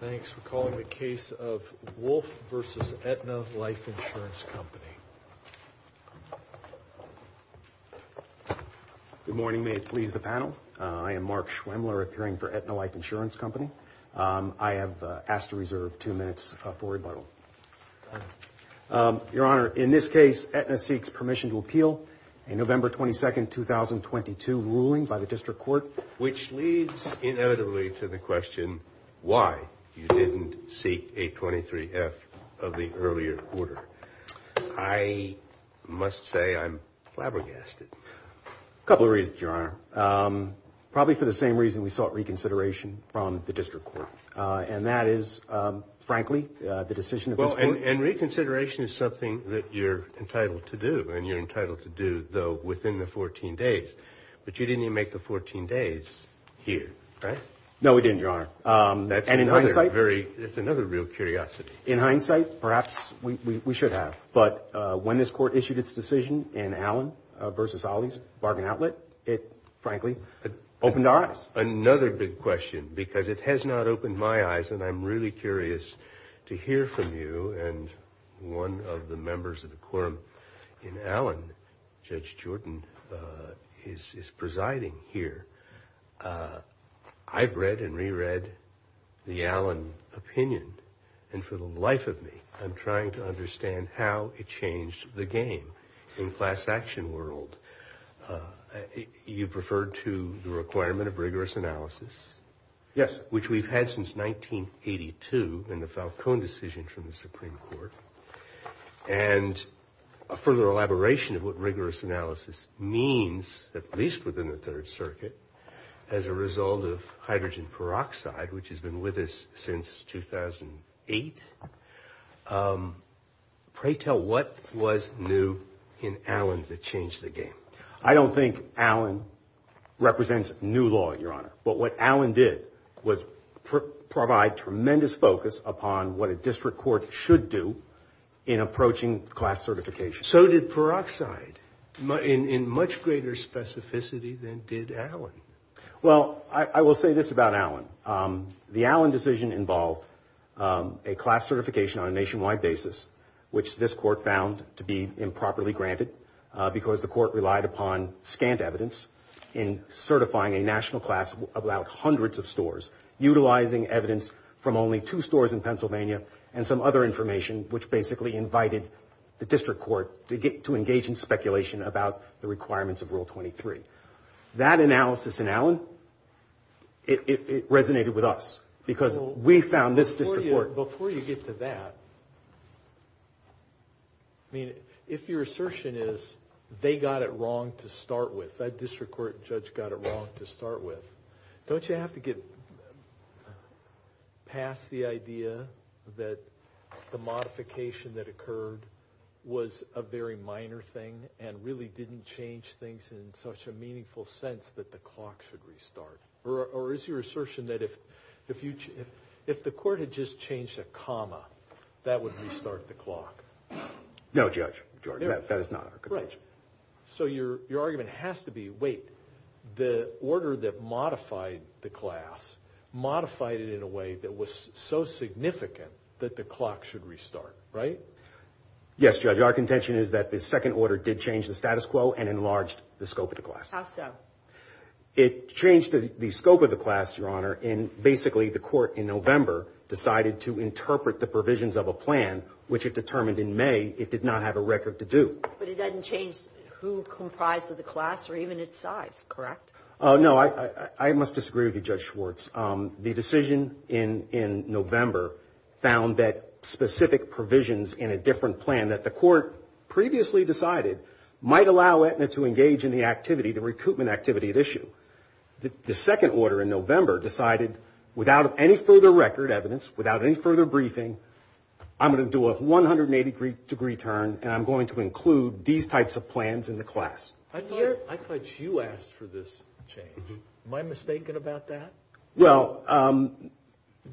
Thanks for calling the case of Wolff v. Aetna Life Insurance Company. Good morning, may it please the panel. I am Mark Schwemler, appearing for Aetna Life Insurance Company. I have asked to reserve two minutes for rebuttal. Your Honor, in this case Aetna seeks permission to appeal a November 22, 2022 ruling by the District Court. Which leads inevitably to the question why you didn't seek 823F of the earlier order. I must say I'm flabbergasted. A couple of reasons, Your Honor. Probably for the same reason we sought reconsideration from the District Court. And that is, frankly, the decision of this Court. And reconsideration is something that you're entitled to do. And you're entitled to do, though, within the 14 days. But you didn't even make the 14 days here, right? No, we didn't, Your Honor. That's another real curiosity. In hindsight, perhaps we should have. But when this Court issued its decision in Allen v. Ollie's Bargain Outlet, it frankly opened our eyes. Another big question, because it has not opened my eyes. And I'm really curious to hear from you and one of the members of the is presiding here. I've read and reread the Allen opinion. And for the life of me, I'm trying to understand how it changed the game in the class action world. You've referred to the requirement of rigorous analysis. Yes. Which we've had since 1982 in the Falcone decision from the Supreme Court. And a further elaboration of what rigorous analysis means, at least within the Third Circuit, as a result of hydrogen peroxide, which has been with us since 2008. Pray tell what was new in Allen that changed the game? I don't think Allen represents new law, Your Honor. But what Allen did was provide tremendous focus upon what a much greater specificity than did Allen. Well, I will say this about Allen. The Allen decision involved a class certification on a nationwide basis, which this Court found to be improperly granted because the Court relied upon scant evidence in certifying a national class about hundreds of stores, utilizing evidence from only two stores in Pennsylvania and some other information, which basically invited the District Court to get to engage in speculation about the requirements of Rule 23. That analysis in Allen, it resonated with us because we found this District Court... Before you get to that, I mean, if your assertion is they got it wrong to start with, that District Court judge got it wrong to start with, don't you have to get past the idea that the modification that occurred was a very minor thing and really didn't change things in such a meaningful sense that the clock should restart? Or is your assertion that if the Court had just changed a comma, that would restart the clock? No, Judge. That is not our conclusion. So your argument has to be, wait, the order that modified the class, modified it in a way that was so significant that the clock should restart, right? Yes, Judge. Our contention is that the second order did change the status quo and enlarged the scope of the class. How so? It changed the scope of the class, Your Honor, and basically the Court in November decided to interpret the provisions of a plan, which it determined in May it did not have a record to do. But it doesn't change who comprised of the class or even its size, correct? No, I must disagree with you, Judge Schwartz. The decision in November found that specific provisions in a different plan that the Court previously decided might allow Aetna to engage in the activity, the recoupment activity at issue. The second order in November decided, without any further record evidence, without any further briefing, I'm going to do a 180 degree turn, and I'm going to include these types of plans in the class. I thought you asked for this change. Am I mistaken about that? Well,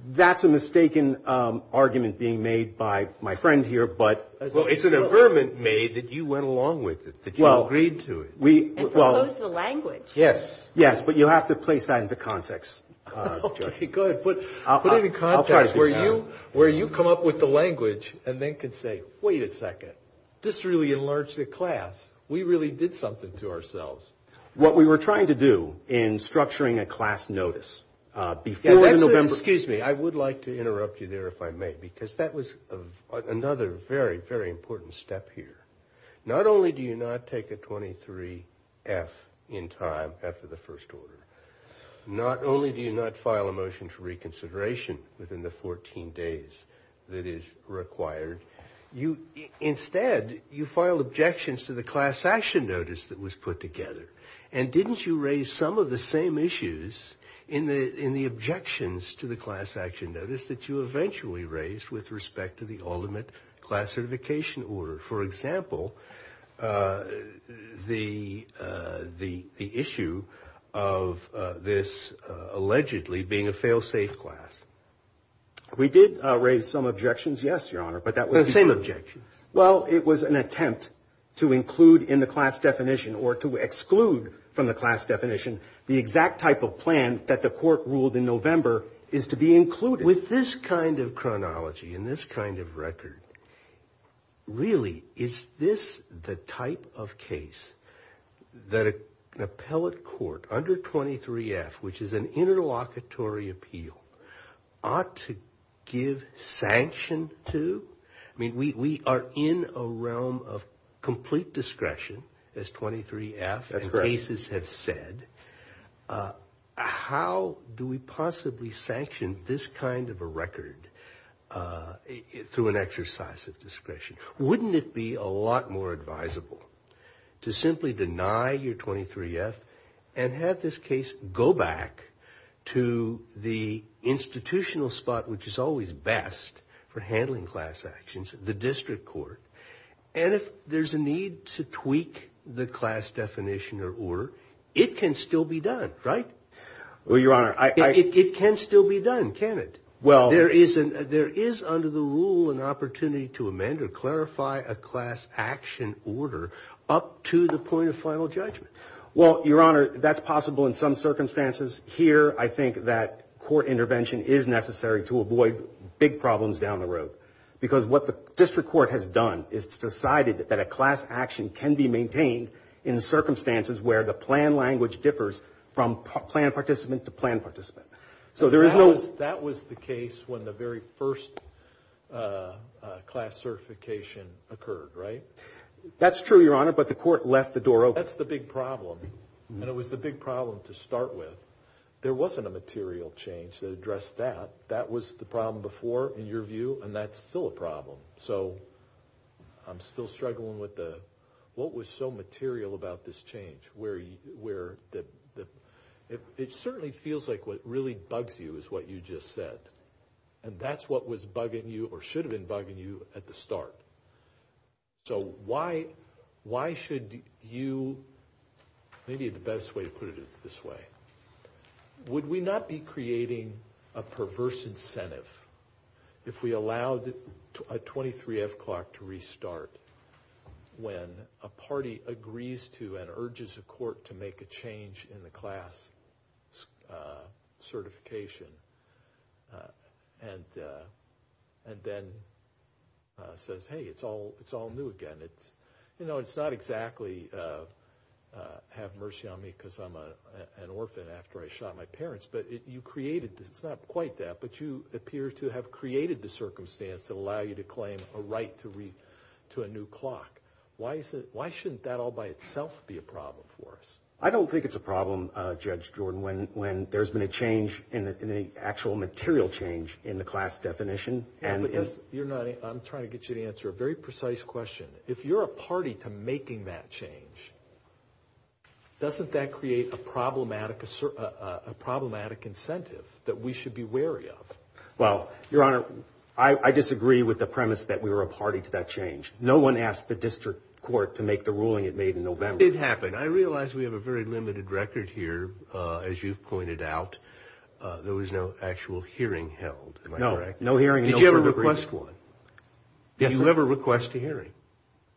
that's a mistaken argument being made by my friend here, but... Well, it's an affirmment made that you went along with it, that you agreed to it. And proposed the language. Yes. Yes, but you have to place that into context, Judge. Okay, good. Put it in context where you come up with the language and then could say, wait a second, this really enlarged the class. We really did something to ourselves. What we were trying to do in structuring a class notice before November... Excuse me, I would like to interrupt you there if I may, because that was another very, very important step here. Not only do you not take a 23-F in time after the first order, not only do you not file a motion for reconsideration within the 14 days that is required, instead you file objections to the class action notice that was put together. And didn't you raise some of the same issues in the objections to the class action notice that you eventually raised with respect to the ultimate class certification order? For example, the issue of this allegedly being a fail-safe class. We did raise some objections, yes, Your Honor, but that was... The same objections. Well, it was an attempt to include in the class definition or to exclude from the class definition the exact type of plan that the court ruled in November is to be included. With this kind of chronology and this kind of record, really, is this the type of case that an appellate court under 23-F, which is an interlocutory appeal, ought to give sanction to? I mean, we are in a realm of complete discretion as 23-F and cases have said. How do we possibly sanction this kind of a record through an exercise of discretion? Wouldn't it be a lot more advisable to simply deny your 23-F and have this case go back to the institutional spot, which is always best for handling class actions, the district court, and if there's a need to tweak the class definition or order, it can still be done, right? Well, Your Honor, I... It can still be done, can't it? Well... There is under the rule an opportunity to amend or clarify a class action order up to the point of final judgment. Well, Your Honor, that's possible in some circumstances. Here, I think that court intervention is necessary to avoid big problems down the road because what the district court has done is decided that a class action can be maintained in circumstances where the plan language differs from plan participant to plan participant. So there is no... That was the case when the very first class certification occurred, right? That's true, Your Honor, but the court left the door open. That's the big problem, and it was the big problem to start with. There wasn't a material change that addressed that. That was the problem before, in your view, and that's still a problem. So I'm still struggling with the... What was so material about this change where... It certainly feels like what really bugs you is what you just said, and that's what was bugging you or should have been bugging you at the start. So why should you... Maybe the best way to put it is this way. Would we not be creating a perverse incentive if we allowed a 23 o'clock to restart when a party agrees to and urges a court to make a change in the class certification and then says, hey, it's all new again? It's not exactly a have mercy on me because I'm an orphan after I shot my parents, but you created this. It's not quite that, but you appear to have created the circumstance to allow you to claim a right to read to a new clock. Why shouldn't that all by itself be a problem for us? I don't think it's a problem, Judge Jordan, when there's been a change in the actual material change in the class definition and... I'm trying to get you to answer a very precise question. If you're a party to that change, doesn't that create a problematic incentive that we should be wary of? Well, Your Honor, I disagree with the premise that we were a party to that change. No one asked the district court to make the ruling it made in November. It happened. I realize we have a very limited record here. As you've pointed out, there was no actual hearing held. Am I correct? No, hearing... Did you ever request one? Did you ever request a hearing?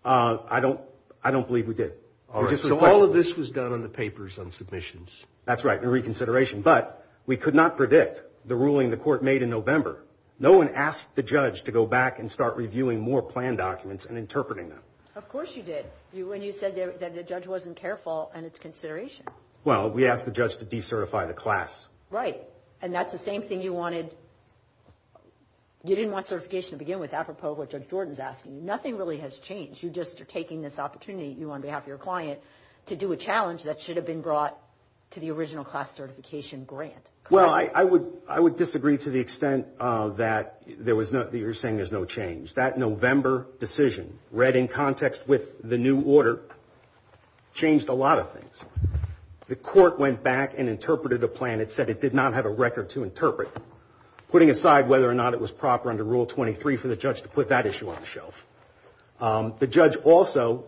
I don't believe we did. All of this was done on the papers on submissions. That's right, in reconsideration, but we could not predict the ruling the court made in November. No one asked the judge to go back and start reviewing more planned documents and interpreting them. Of course you did, when you said that the judge wasn't careful in its consideration. Well, we asked the judge to decertify the class. Right, and that's the same thing you wanted... You didn't want certification to begin with, apropos what Judge Jordan's asking. Nothing really has changed. You just are taking this opportunity, you on behalf of your client, to do a challenge that should have been brought to the original class certification grant. Well, I would disagree to the extent that there was no... that you're saying there's no change. That November decision, read in context with the new order, changed a lot of things. The court went back and interpreted a plan that said it did not have a record to interpret, putting aside whether or not it was proper under Rule 23 for the judge to put that issue on the shelf. The judge also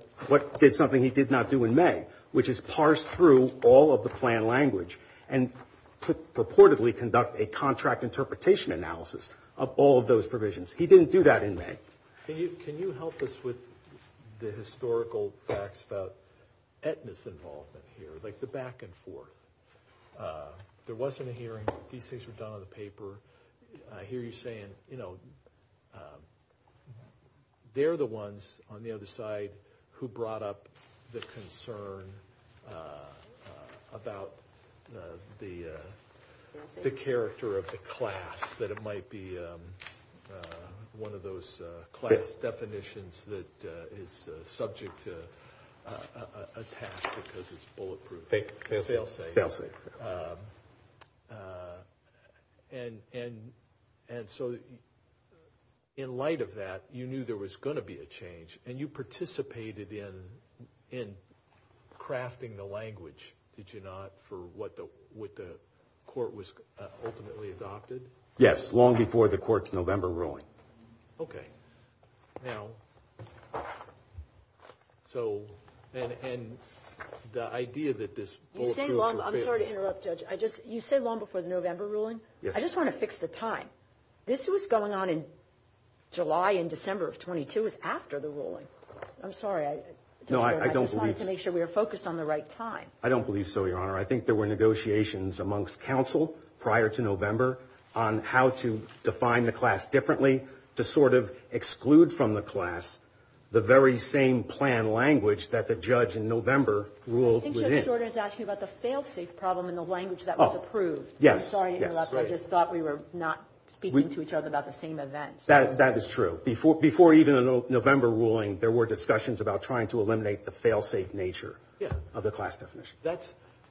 did something he did not do in May, which is parse through all of the plan language and purportedly conduct a contract interpretation analysis of all of those provisions. He didn't do that in May. Can you help us with the historical ethnics involvement here, like the back and forth? There wasn't a hearing. These things were done on the paper. I hear you saying, you know, they're the ones on the other side who brought up the concern about the character of the class, that it might be one of those class definitions that is subject to attack because it's bulletproof. And so, in light of that, you knew there was going to be a change, and you participated in crafting the language, did you not, for what the court was ultimately adopted? Yes, long before the court's November ruling. Okay. Now, so, and the idea that this bulletproof... I'm sorry to interrupt, Judge. You said long before the November ruling? Yes. I just want to fix the time. This was going on in July and December of 22, it was after the ruling. I'm sorry. No, I don't believe... I just wanted to make sure we were focused on the right time. I don't believe so, Your Honor. I think there were negotiations amongst counsel prior to November on how to define the class differently, to sort of exclude from the class the very same plan language that the judge in November ruled within. I think Judge Jordan is asking about the fail-safe problem in the language that was approved. Yes. I'm sorry to interrupt. I just thought we were not speaking to each other about the same event. That is true. Before even the November ruling, there were discussions about trying to eliminate the fail-safe nature of the class definition.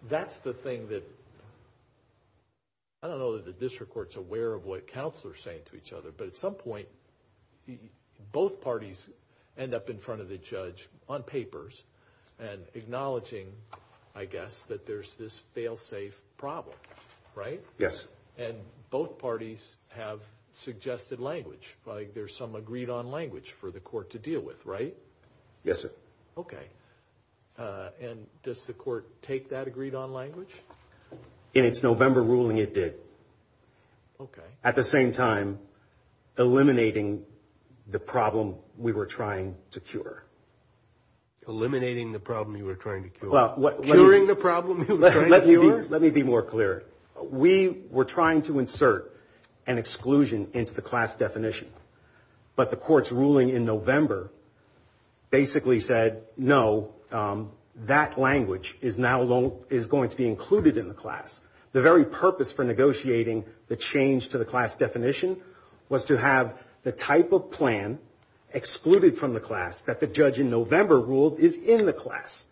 That's the thing that... I don't know that the district court's aware of what counsel are saying to each other, but at some point, both parties end up in front of the judge on papers and acknowledging, I guess, that there's this fail-safe problem, right? Yes. And both parties have suggested language. There's some agreed on language for the court to deal with, right? Yes, sir. Okay. And does the court take that agreed on language? In its November ruling, it did. Okay. At the same time, eliminating the problem we were trying to cure. Eliminating the problem you were trying to cure? Curing the problem you were trying to cure? Let me be more clear. We were trying to insert an exclusion into the class definition, but the court's ruling in basically said, no, that language is now going to be included in the class. The very purpose for negotiating the change to the class definition was to have the type of plan excluded from the class that the judge in November ruled is in the class.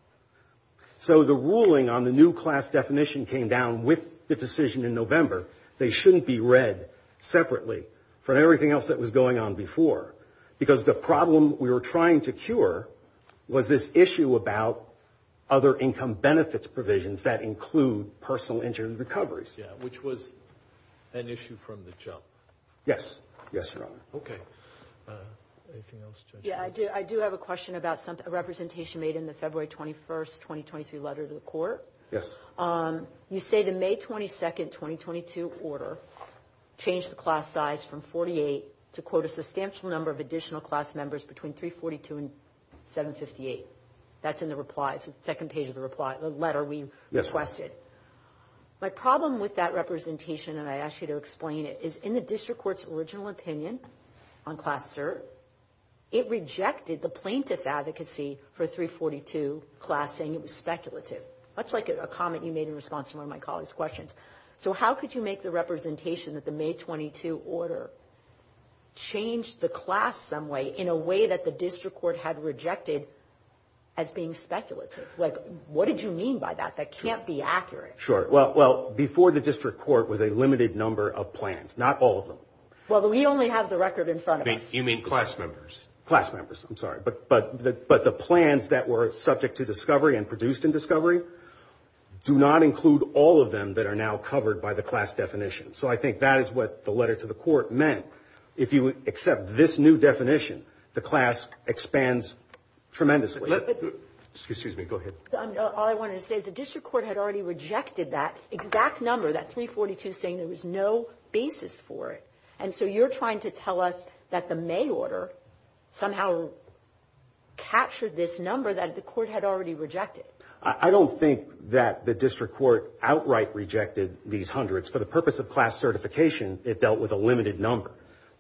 So the ruling on the new class definition came down with the decision in November. They shouldn't be read separately from everything else that was going on before. Because the problem we were trying to cure was this issue about other income benefits provisions that include personal injury recoveries. Yeah, which was an issue from the jump. Yes. Yes, sir. Okay. Anything else? Yeah, I do. I do have a question about a representation made in the February 21st, 2023 letter to the court. Yes. You say the May 22nd, 2022 order changed the class size from 48 to quote a substantial number of additional class members between 342 and 758. That's in the reply. It's the second page of the reply, the letter we requested. My problem with that representation, and I asked you to explain it, is in the district court's original opinion on class cert, it rejected the plaintiff's advocacy for 342 class saying it was speculative, much like a comment you made in response to one of my colleagues' questions. So how could you make the representation that the May 22 order changed the class some way in a way that the district court had rejected as being speculative? What did you mean by that? That can't be accurate. Sure. Well, before the district court was a limited number of plans, not all of them. Well, we only have the record in front of us. You mean class members? Class members, I'm sorry. But the plans that were subject to discovery and produced in discovery do not include all of them that are now covered by the class definition. So I think that is what the letter to the court meant. If you accept this new definition, the class expands tremendously. Excuse me. Go ahead. All I wanted to say is the district court had already rejected that exact number, that 342 saying there was no basis for it. And so you're trying to tell us that the district court outright rejected these hundreds for the purpose of class certification. It dealt with a limited number.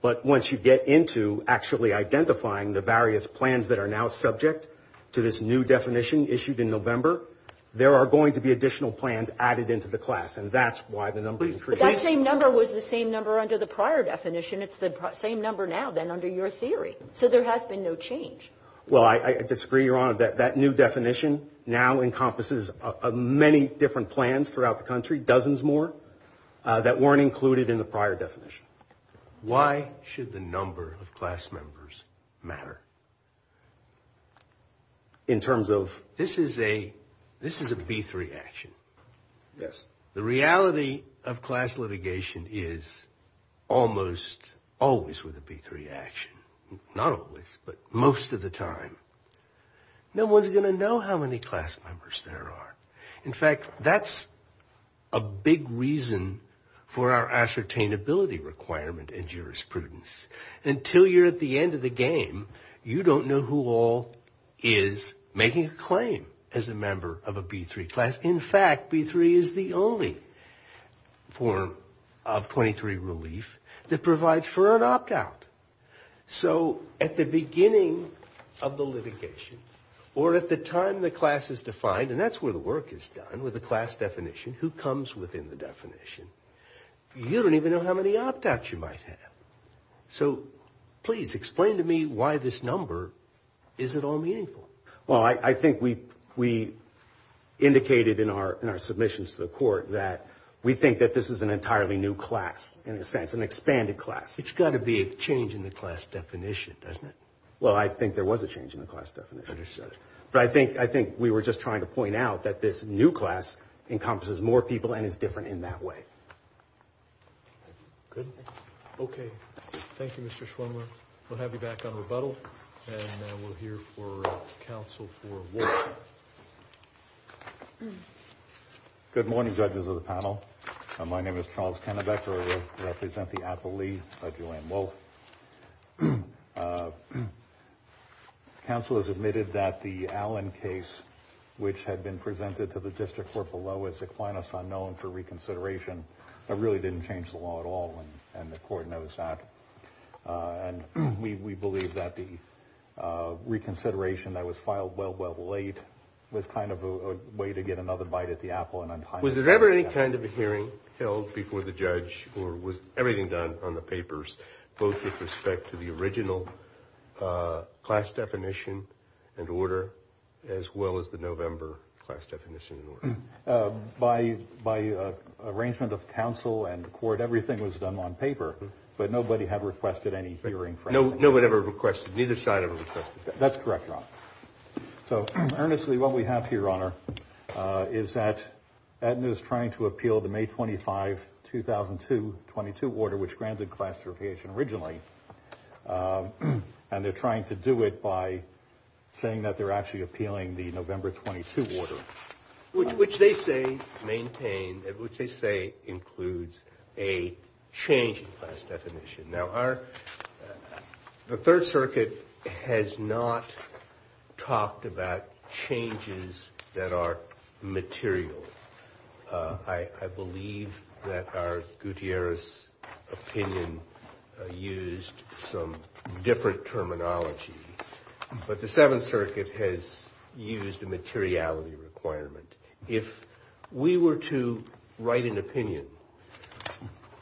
But once you get into actually identifying the various plans that are now subject to this new definition issued in November, there are going to be additional plans added into the class. And that's why the number of the same number was the same number under the prior definition. It's the same number now than under your theory. So there has been no change. Well, I disagree, Your Honor. That new definition now encompasses many different plans throughout the country, dozens more that weren't included in the prior definition. Why should the number of class members matter? In terms of... This is a, this is a B3 action. Yes. The reality of class litigation is almost always with a B3 action. Not always, but most of the time. No one's going to know how many class members there are. In fact, that's a big reason for our ascertainability requirement and jurisprudence. Until you're at the end of the game, you don't know who all is making a claim as a member of a B3 class. In fact, B3 is the only form of 23 relief that provides for an opt-out. So at the beginning of the litigation or at the time the class is defined, and that's where the work is done with the class definition, who comes within the definition, you don't even know how many opt-outs you might have. So please explain to me why this number isn't all meaningful. Well, I think we indicated in our submissions to the court that we think that this is an entirely new class, in a sense, an expanded class. It's got to be a change in the class definition, doesn't it? Well, I think there was a change in the class definition. But I think we were just trying to point out that this new class encompasses more people and is different in that way. Good. Okay. Thank you, Mr. Schwimmer. We'll have you back on rebuttal and we'll hear from counsel for Wolfe. Good morning, judges of the panel. My name is Charles Kennebecke. I represent the Appellee Judge Joanne Wolfe. Counsel has admitted that the Allen case, which had been presented to reconsideration, really didn't change the law at all, and the court knows that. And we believe that the reconsideration that was filed well, well late was kind of a way to get another bite at the apple. Was there ever any kind of a hearing held before the judge, or was everything done on the papers, both with respect to the original class definition and order, as well as the November class definition and order? By arrangement of counsel and the court, everything was done on paper, but nobody had requested any hearing. Nobody ever requested, neither side ever requested? That's correct, Your Honor. So, earnestly, what we have here, Your Honor, is that Aetna is trying to appeal the May 25, 2002, 22 order, which granted class certification originally. And they're trying to do it by saying that they're actually appealing the November 22 order, which they say includes a change in class definition. Now, the Third Circuit has not talked about changes that are material. I believe that our Gutierrez opinion used some different terminology, but the Seventh Circuit has used a materiality requirement. If we were to write an opinion,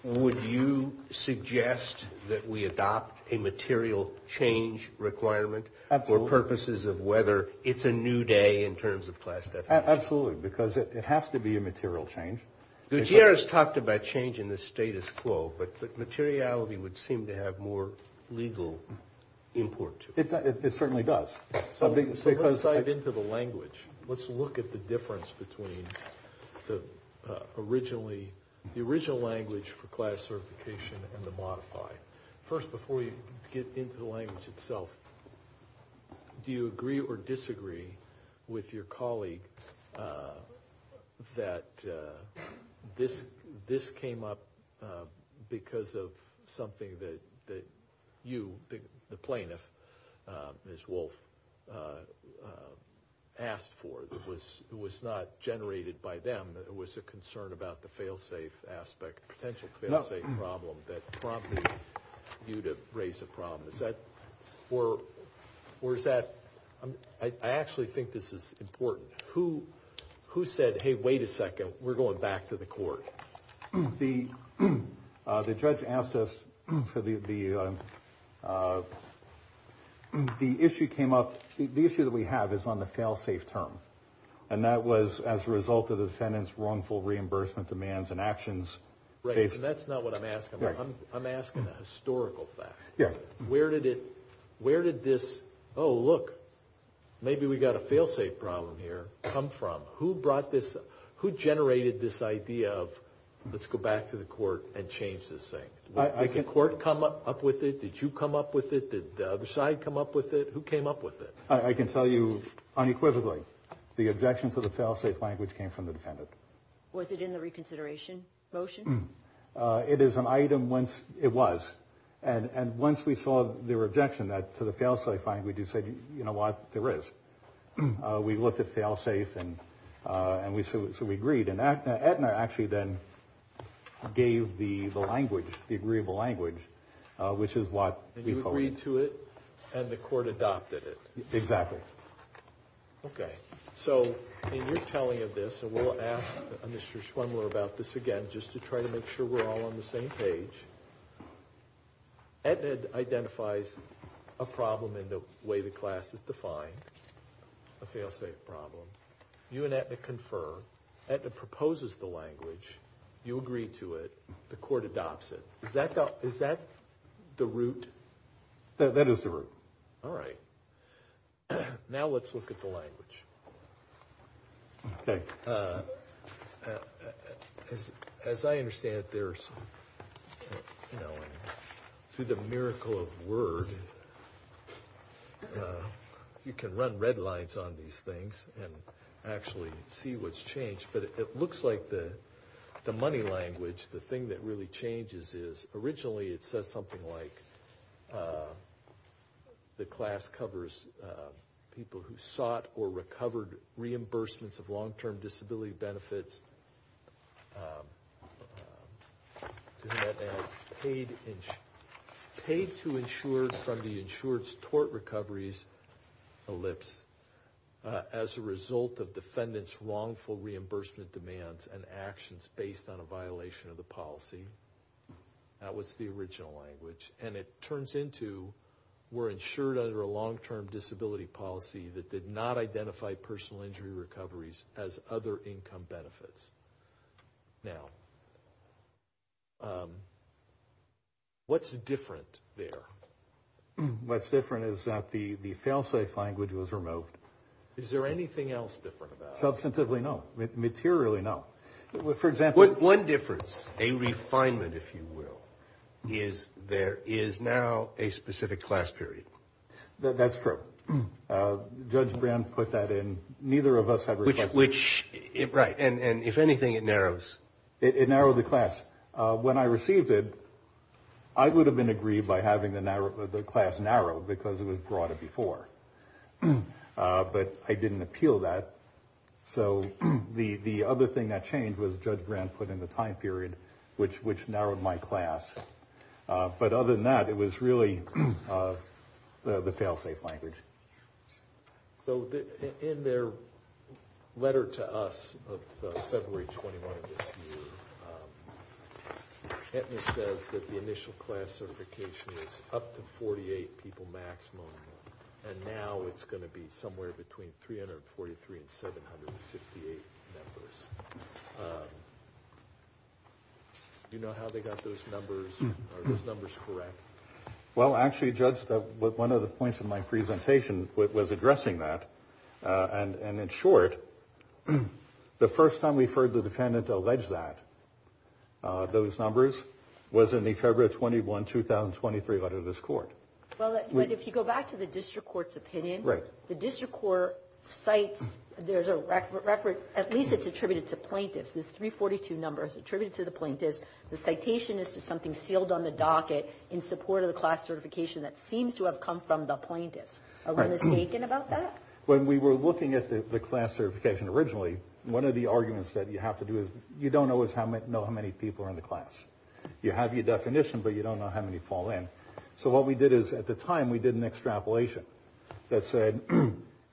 would you suggest that we adopt a material change requirement for purposes of whether it's a new day in terms of class definition? Absolutely, because it has to be a material change. Gutierrez talked about change in the status quo, but materiality would seem to have more legal import to it. It certainly does. Let's dive into the language. Let's look at the difference between the original language for class certification and the modified. First, before we get into the language itself, do you agree or disagree with your colleague that this came up because of something that you, the plaintiff, Ms. Wolfe, asked for that was not generated by them? It was a concern about the fail-safe aspect, potential fail-safe problem that prompted you to raise a problem. I actually think this is who said, hey, wait a second, we're going back to the court. The judge asked us for the issue that we have is on the fail-safe term. That was as a result of the defendant's wrongful reimbursement demands and actions. That's not what I'm asking. I'm asking a historical fact. Where did this, oh, look, maybe we got a fail-safe problem here, come from? Who generated this idea of let's go back to the court and change this thing? Did the court come up with it? Did you come up with it? Did the other side come up with it? Who came up with it? I can tell you unequivocally the objection to the fail-safe language came from the defendant. Was it in the reconsideration motion? It is an you know what, there is. We looked at fail-safe and so we agreed. And Aetna actually then gave the language, the agreeable language, which is what we followed. You agreed to it and the court adopted it. Exactly. Okay. So in your telling of this, and we'll ask Mr. Schwendler about this again just to try to make sure we're all on the same page, Aetna identifies a problem in the way the class is defined, a fail-safe problem. You and Aetna confer. Aetna proposes the language. You agree to it. The court adopts it. Is that the root? That is the root. All right. Now let's look at the language. Okay. As I understand it, there's, you know, through the miracle of word, you can run red lines on these things and actually see what's changed. But it looks like the money language, the thing that really changes is originally it says something like this. The class covers people who sought or recovered reimbursements of long-term disability benefits, paid to insure from the insured's tort recoveries ellipse as a result of defendant's wrongful reimbursement demands and actions based on a violation of the policy. That was the original language. And it turns into we're insured under a long-term disability policy that did not identify personal injury recoveries as other income benefits. Now, what's different there? What's different is that the fail-safe language was removed. Is there anything else different about it? Substantively, no. Materially, no. For example, one difference, a refinement, if you will, is there is now a specific class period. That's true. Judge Brand put that in. Neither of us have. Right. And if anything, it narrows. It narrowed the class. When I received it, I would have been aggrieved by having the class narrowed because it was broader before. But I didn't appeal that. So the other thing that changed was Judge Brand put in the time period which narrowed my class. But other than that, it was really the fail-safe language. So in their letter to us of February 21 of this year, Aetna says that the initial class certification is up to 48 people maximum. And now it's going to be somewhere between 343 and 758 members. Do you know how they got those numbers? Are those numbers correct? Well, actually, Judge, one of the points of my presentation was addressing that. And in short, the first time we've heard the defendant allege that, those numbers, was in the February 21, 2023 letter to this court. Well, if you go back to the district court's opinion, the district court cites there's a record, at least it's attributed to plaintiffs. This 342 number is attributed to the plaintiffs. The citation is to something sealed on the docket in support of the class certification that seems to have come from the plaintiffs. Are we mistaken about that? When we were looking at the class certification originally, one of the arguments that you have to do is you don't always know how many people are in the class. You have your definition, but you don't know how many fall in. So what we did is, at the time, we did an extrapolation that said,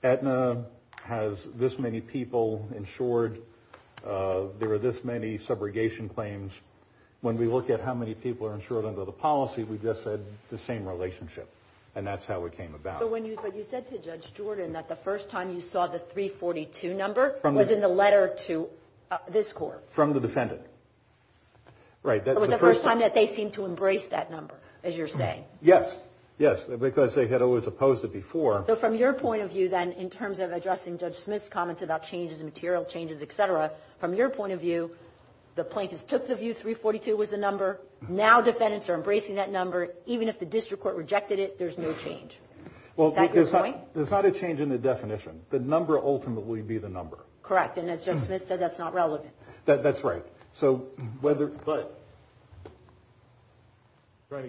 Aetna has this many people insured. There are this many subrogation claims. When we look at how many people are insured under the policy, we just said the same relationship. And that's how it came about. But you said to Judge Jordan that the first time you saw the 342 number was in the letter to this court. From the defendant. Right. That was the first time they seemed to embrace that number, as you're saying. Yes. Yes. Because they had always opposed it before. So from your point of view, then, in terms of addressing Judge Smith's comments about changes in material, changes, et cetera, from your point of view, the plaintiffs took the view 342 was the number. Now defendants are embracing that number. Even if the district court rejected it, there's no change. Is that your point? There's not a change in the definition. The number ultimately be the number. Correct. And as Judge Smith said, that's not relevant. That's right. I'm trying to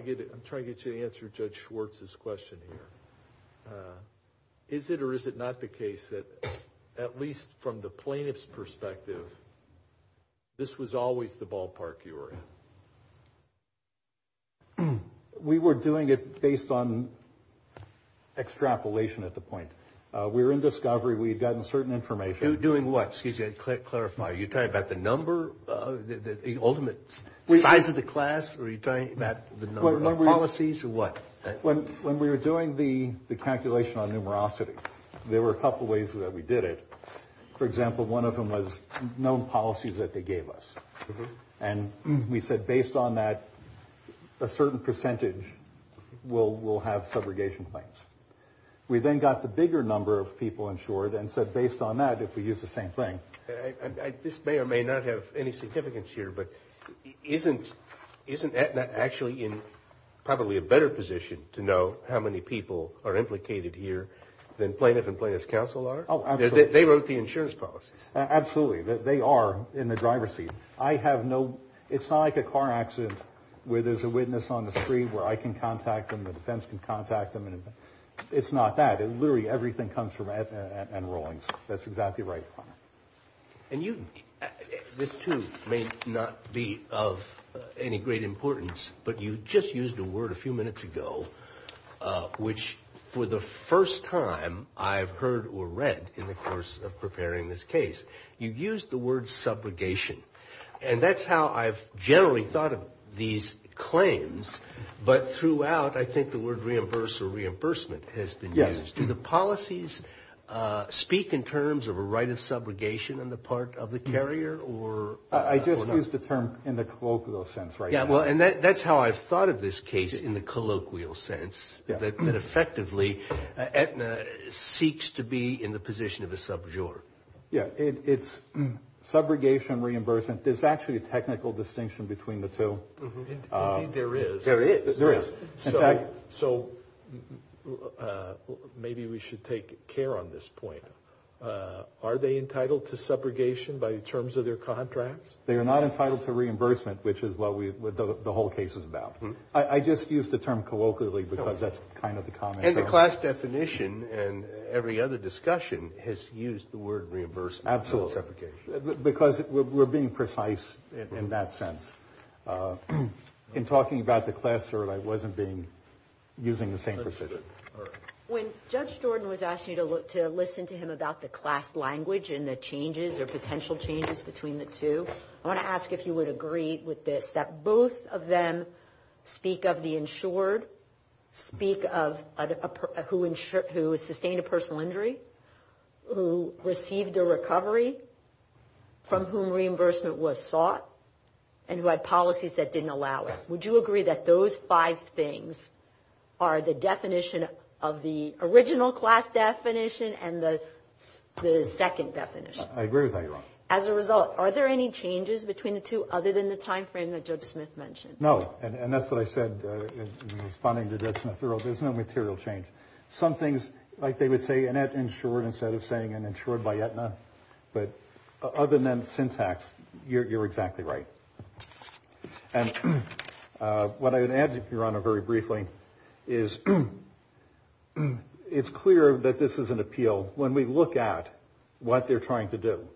get you to answer Judge Schwartz's question here. Is it or is it not the case that, at least from the plaintiff's perspective, this was always the ballpark you were in? We were doing it based on extrapolation at the point. We were in discovery. We had gotten certain information. Doing what? Excuse me. Clarify. Are you talking about the number, the ultimate size of the class? Are you talking about the number of policies or what? When we were doing the calculation on numerosity, there were a couple of ways that we did it. For example, one of them was known policies that they gave us. And we said, based on that, a certain percentage will have subrogation claims. We then got the bigger number of people insured and said, based on that, if we use the same thing. This may or may not have any significance here, but isn't Aetna actually in probably a better position to know how many people are implicated here than plaintiff and plaintiff's counsel are? They wrote the insurance policies. Absolutely. They are in the driver's seat. It's not like a car accident where there's a witness on the screen where I can contact them, the defense can contact them. It's not that. Literally everything comes from Aetna and Rawlings. That's exactly right. And this too may not be of any great importance, but you just used a word a few minutes ago, which for the first time I've heard or read in the course of preparing this case, you used the word subrogation. And that's how I've generally thought of these claims. But throughout, I think the word reimburse or reimbursement has been used. Do the policies speak in terms of a right of subrogation on the part of the carrier or not? I just used the term in the colloquial sense right now. Yeah. Well, and that's how I've thought of this case in the colloquial sense, that effectively Aetna seeks to be in the position of a subjourn. Yeah. It's subrogation reimbursement. There's actually a technical distinction between the two. There is. There is. So maybe we should take care on this point. Are they entitled to subrogation by terms of their contracts? They are not entitled to reimbursement, which is what the whole case is about. I just used the term colloquially because that's kind of the common term. And the class definition and every other discussion has used the word reimbursement. Because we're being precise in that sense. In talking about the class, I wasn't using the same precision. When Judge Jordan was asking you to listen to him about the class language and the changes or potential changes between the two, I want to ask if you would agree with this, that both of them speak of the insured, speak of who sustained a personal injury, who received a recovery, from whom reimbursement was sought, and who had policies that didn't allow it. Would you agree that those five things are the definition of the original class definition and the second definition? I agree with that, Your Honor. As a result, are there any changes between the two other than the time frame that Judge Smith mentioned? No. And that's what I said in responding to Judge Smith. There's no material change. Some things, like they would say in that insured instead of saying an insured by Aetna. But other than syntax, you're exactly right. And what I would add, Your Honor, very briefly, is it's clear that this is an appeal when we look at what they're trying to do.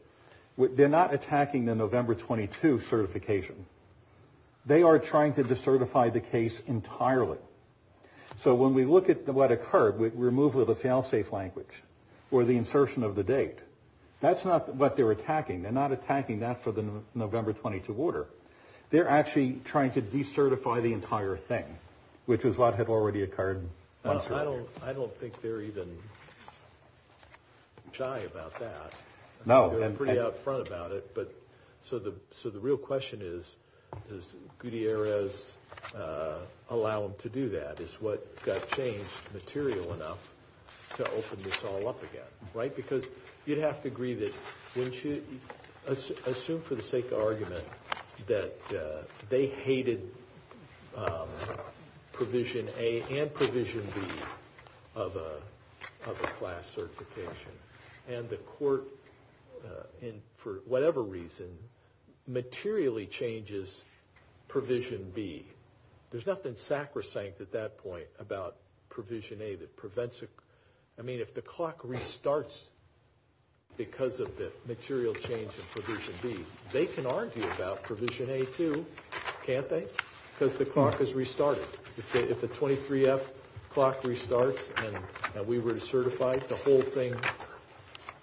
They're not attacking the November 22 certification. They are trying to decertify the case entirely. So when we look at what occurred, removal of the fail-safe language, or the insertion of the date, that's not what they're attacking. They're not attacking that for the November 22 order. They're actually trying to decertify the entire thing, which is what had already occurred. I don't think they're even shy about that. No. They're pretty up front about it. So the real question is, does Gutierrez allow them to do that? Is what Gutierrez changed material enough to open this all up again? Right? Because you'd have to agree that, assume for the sake of argument, that they hated provision A and provision B of a class certification. And the court, for whatever reason, materially changes provision B. There's nothing sacrosanct at that point about provision A that prevents it. I mean, if the clock restarts because of the material change in provision B, they can argue about provision A too, can't they? Because the clock has restarted. If the 23F clock restarts and we were to certify, the whole thing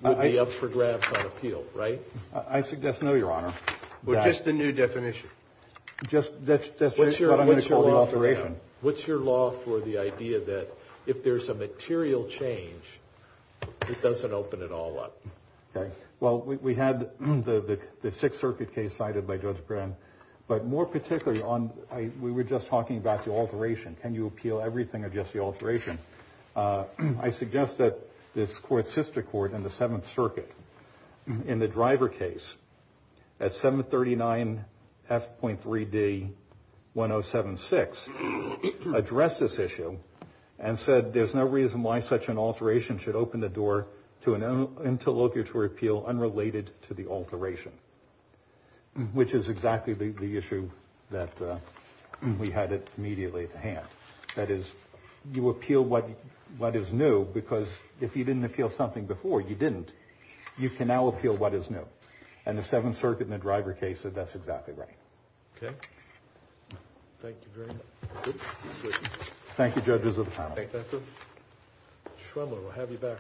would be up for grabs on appeal, right? I suggest no, Your Honor. Well, just the new definition. Just that's what I'm going to call alteration. What's your law for the idea that if there's a material change, it doesn't open it all up? Okay. Well, we had the Sixth Circuit case cited by Judge Brand. But more particularly, we were just talking about the alteration. Can you appeal everything or just the alteration? I suggest that this court, Sister Court in the Seventh Circuit, in the Driver case at 739 F.3d 1076, addressed this issue and said, there's no reason why such an alteration should open the door to an interlocutory appeal unrelated to the alteration, which is exactly the issue that we had immediately at hand. That is, you appeal what is new, because if you didn't appeal something before, you didn't. You can now appeal what is new. And the Seventh Circuit in the Driver case said that's exactly right. Okay. Thank you very much. Thank you, Judges of the panel. Thank you, Mr. Schwimmer. We'll have you back.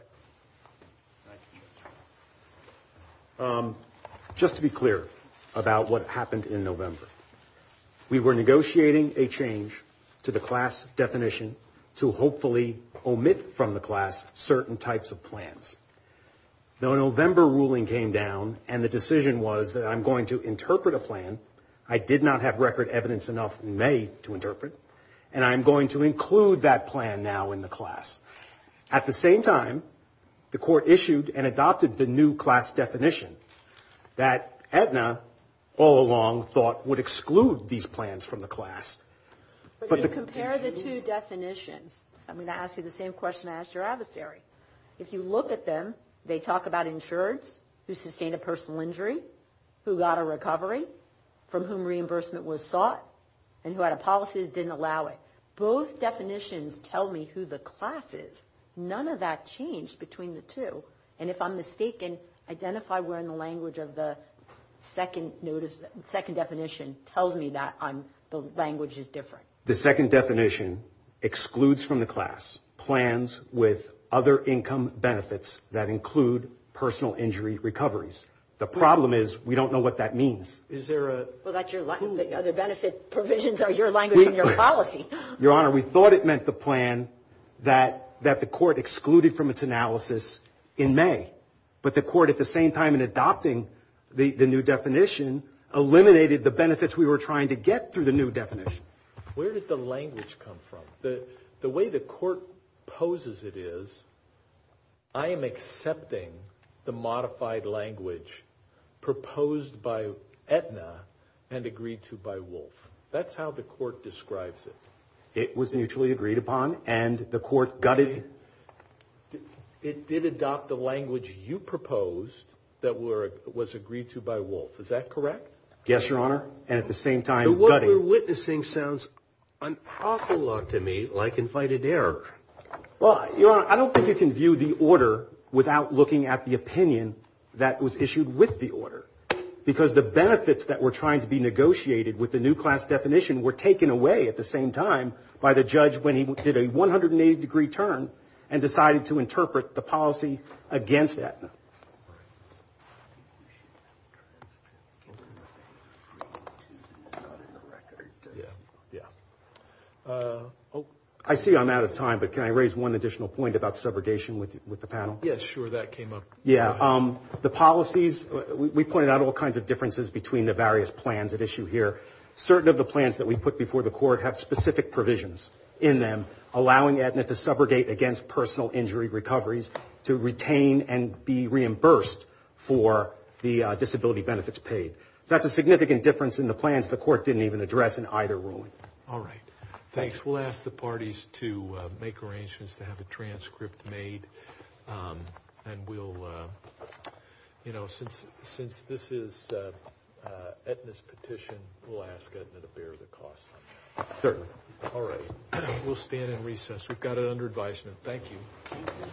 Thank you. Just to be clear about what happened in November. We were negotiating a change to the class definition to hopefully omit from the class certain types of plans. The November ruling came down, and the decision was that I'm going to interpret a plan I did not have record evidence enough in May to interpret, and I'm going to include that plan now in the class. At the same time, the Court issued and adopted the new class definition that Aetna all along thought would exclude these plans from the class. But if you compare the two definitions, I'm going to ask you the same question I asked your adversary. If you look at them, they talk about insureds who sustained a personal injury, who got a recovery, from whom reimbursement was sought, and who had a policy that didn't allow it. Both definitions tell me who the class is. None of that changed between the two. And if I'm mistaken, identify where in the language of the second definition tells me that the language is different. The second definition excludes from the class plans with other income benefits that include personal injury recoveries. The problem is we don't know what that means. Well, the benefit provisions are your language and your policy. Your Honor, we thought it meant the plan that the Court excluded from its analysis in May. But the Court, at the same time in adopting the new definition, eliminated the benefits we were trying to get through the new definition. Where did the language come from? The way the Court poses it is, I am accepting the modified language proposed by Aetna and agreed to by Wolf. That's how the Court describes it. It was mutually agreed upon, and the Court gutted... It did adopt the language you proposed that was agreed to by Wolf. Is that correct? Yes, Your Honor. And at the same time, gutting... The one we're witnessing sounds unapologetic to me, like invited error. Well, Your Honor, I don't think you can view the order without looking at the opinion that was issued with the order. Because the benefits that were trying to be negotiated with the new class definition were taken away at the same time by the judge when he did a 180-degree turn and decided to interpret the policy against Aetna. I see I'm out of time, but can I raise one additional point about subrogation with the panel? Yes, sure. That came up. Yeah. The policies, we pointed out all kinds of differences between the various plans at issue here. Certain of the plans that we put before the Court have specific provisions in them, subrogate against personal injury recoveries to retain and be reimbursed for the disability benefits paid. That's a significant difference in the plans the Court didn't even address in either ruling. All right. Thanks. We'll ask the parties to make arrangements to have a transcript made, and we'll... Since this is Aetna's petition, we'll ask Aetna to bear the cost. Certainly. All right. We'll stand and recess. We've got it under advisement. Thank you.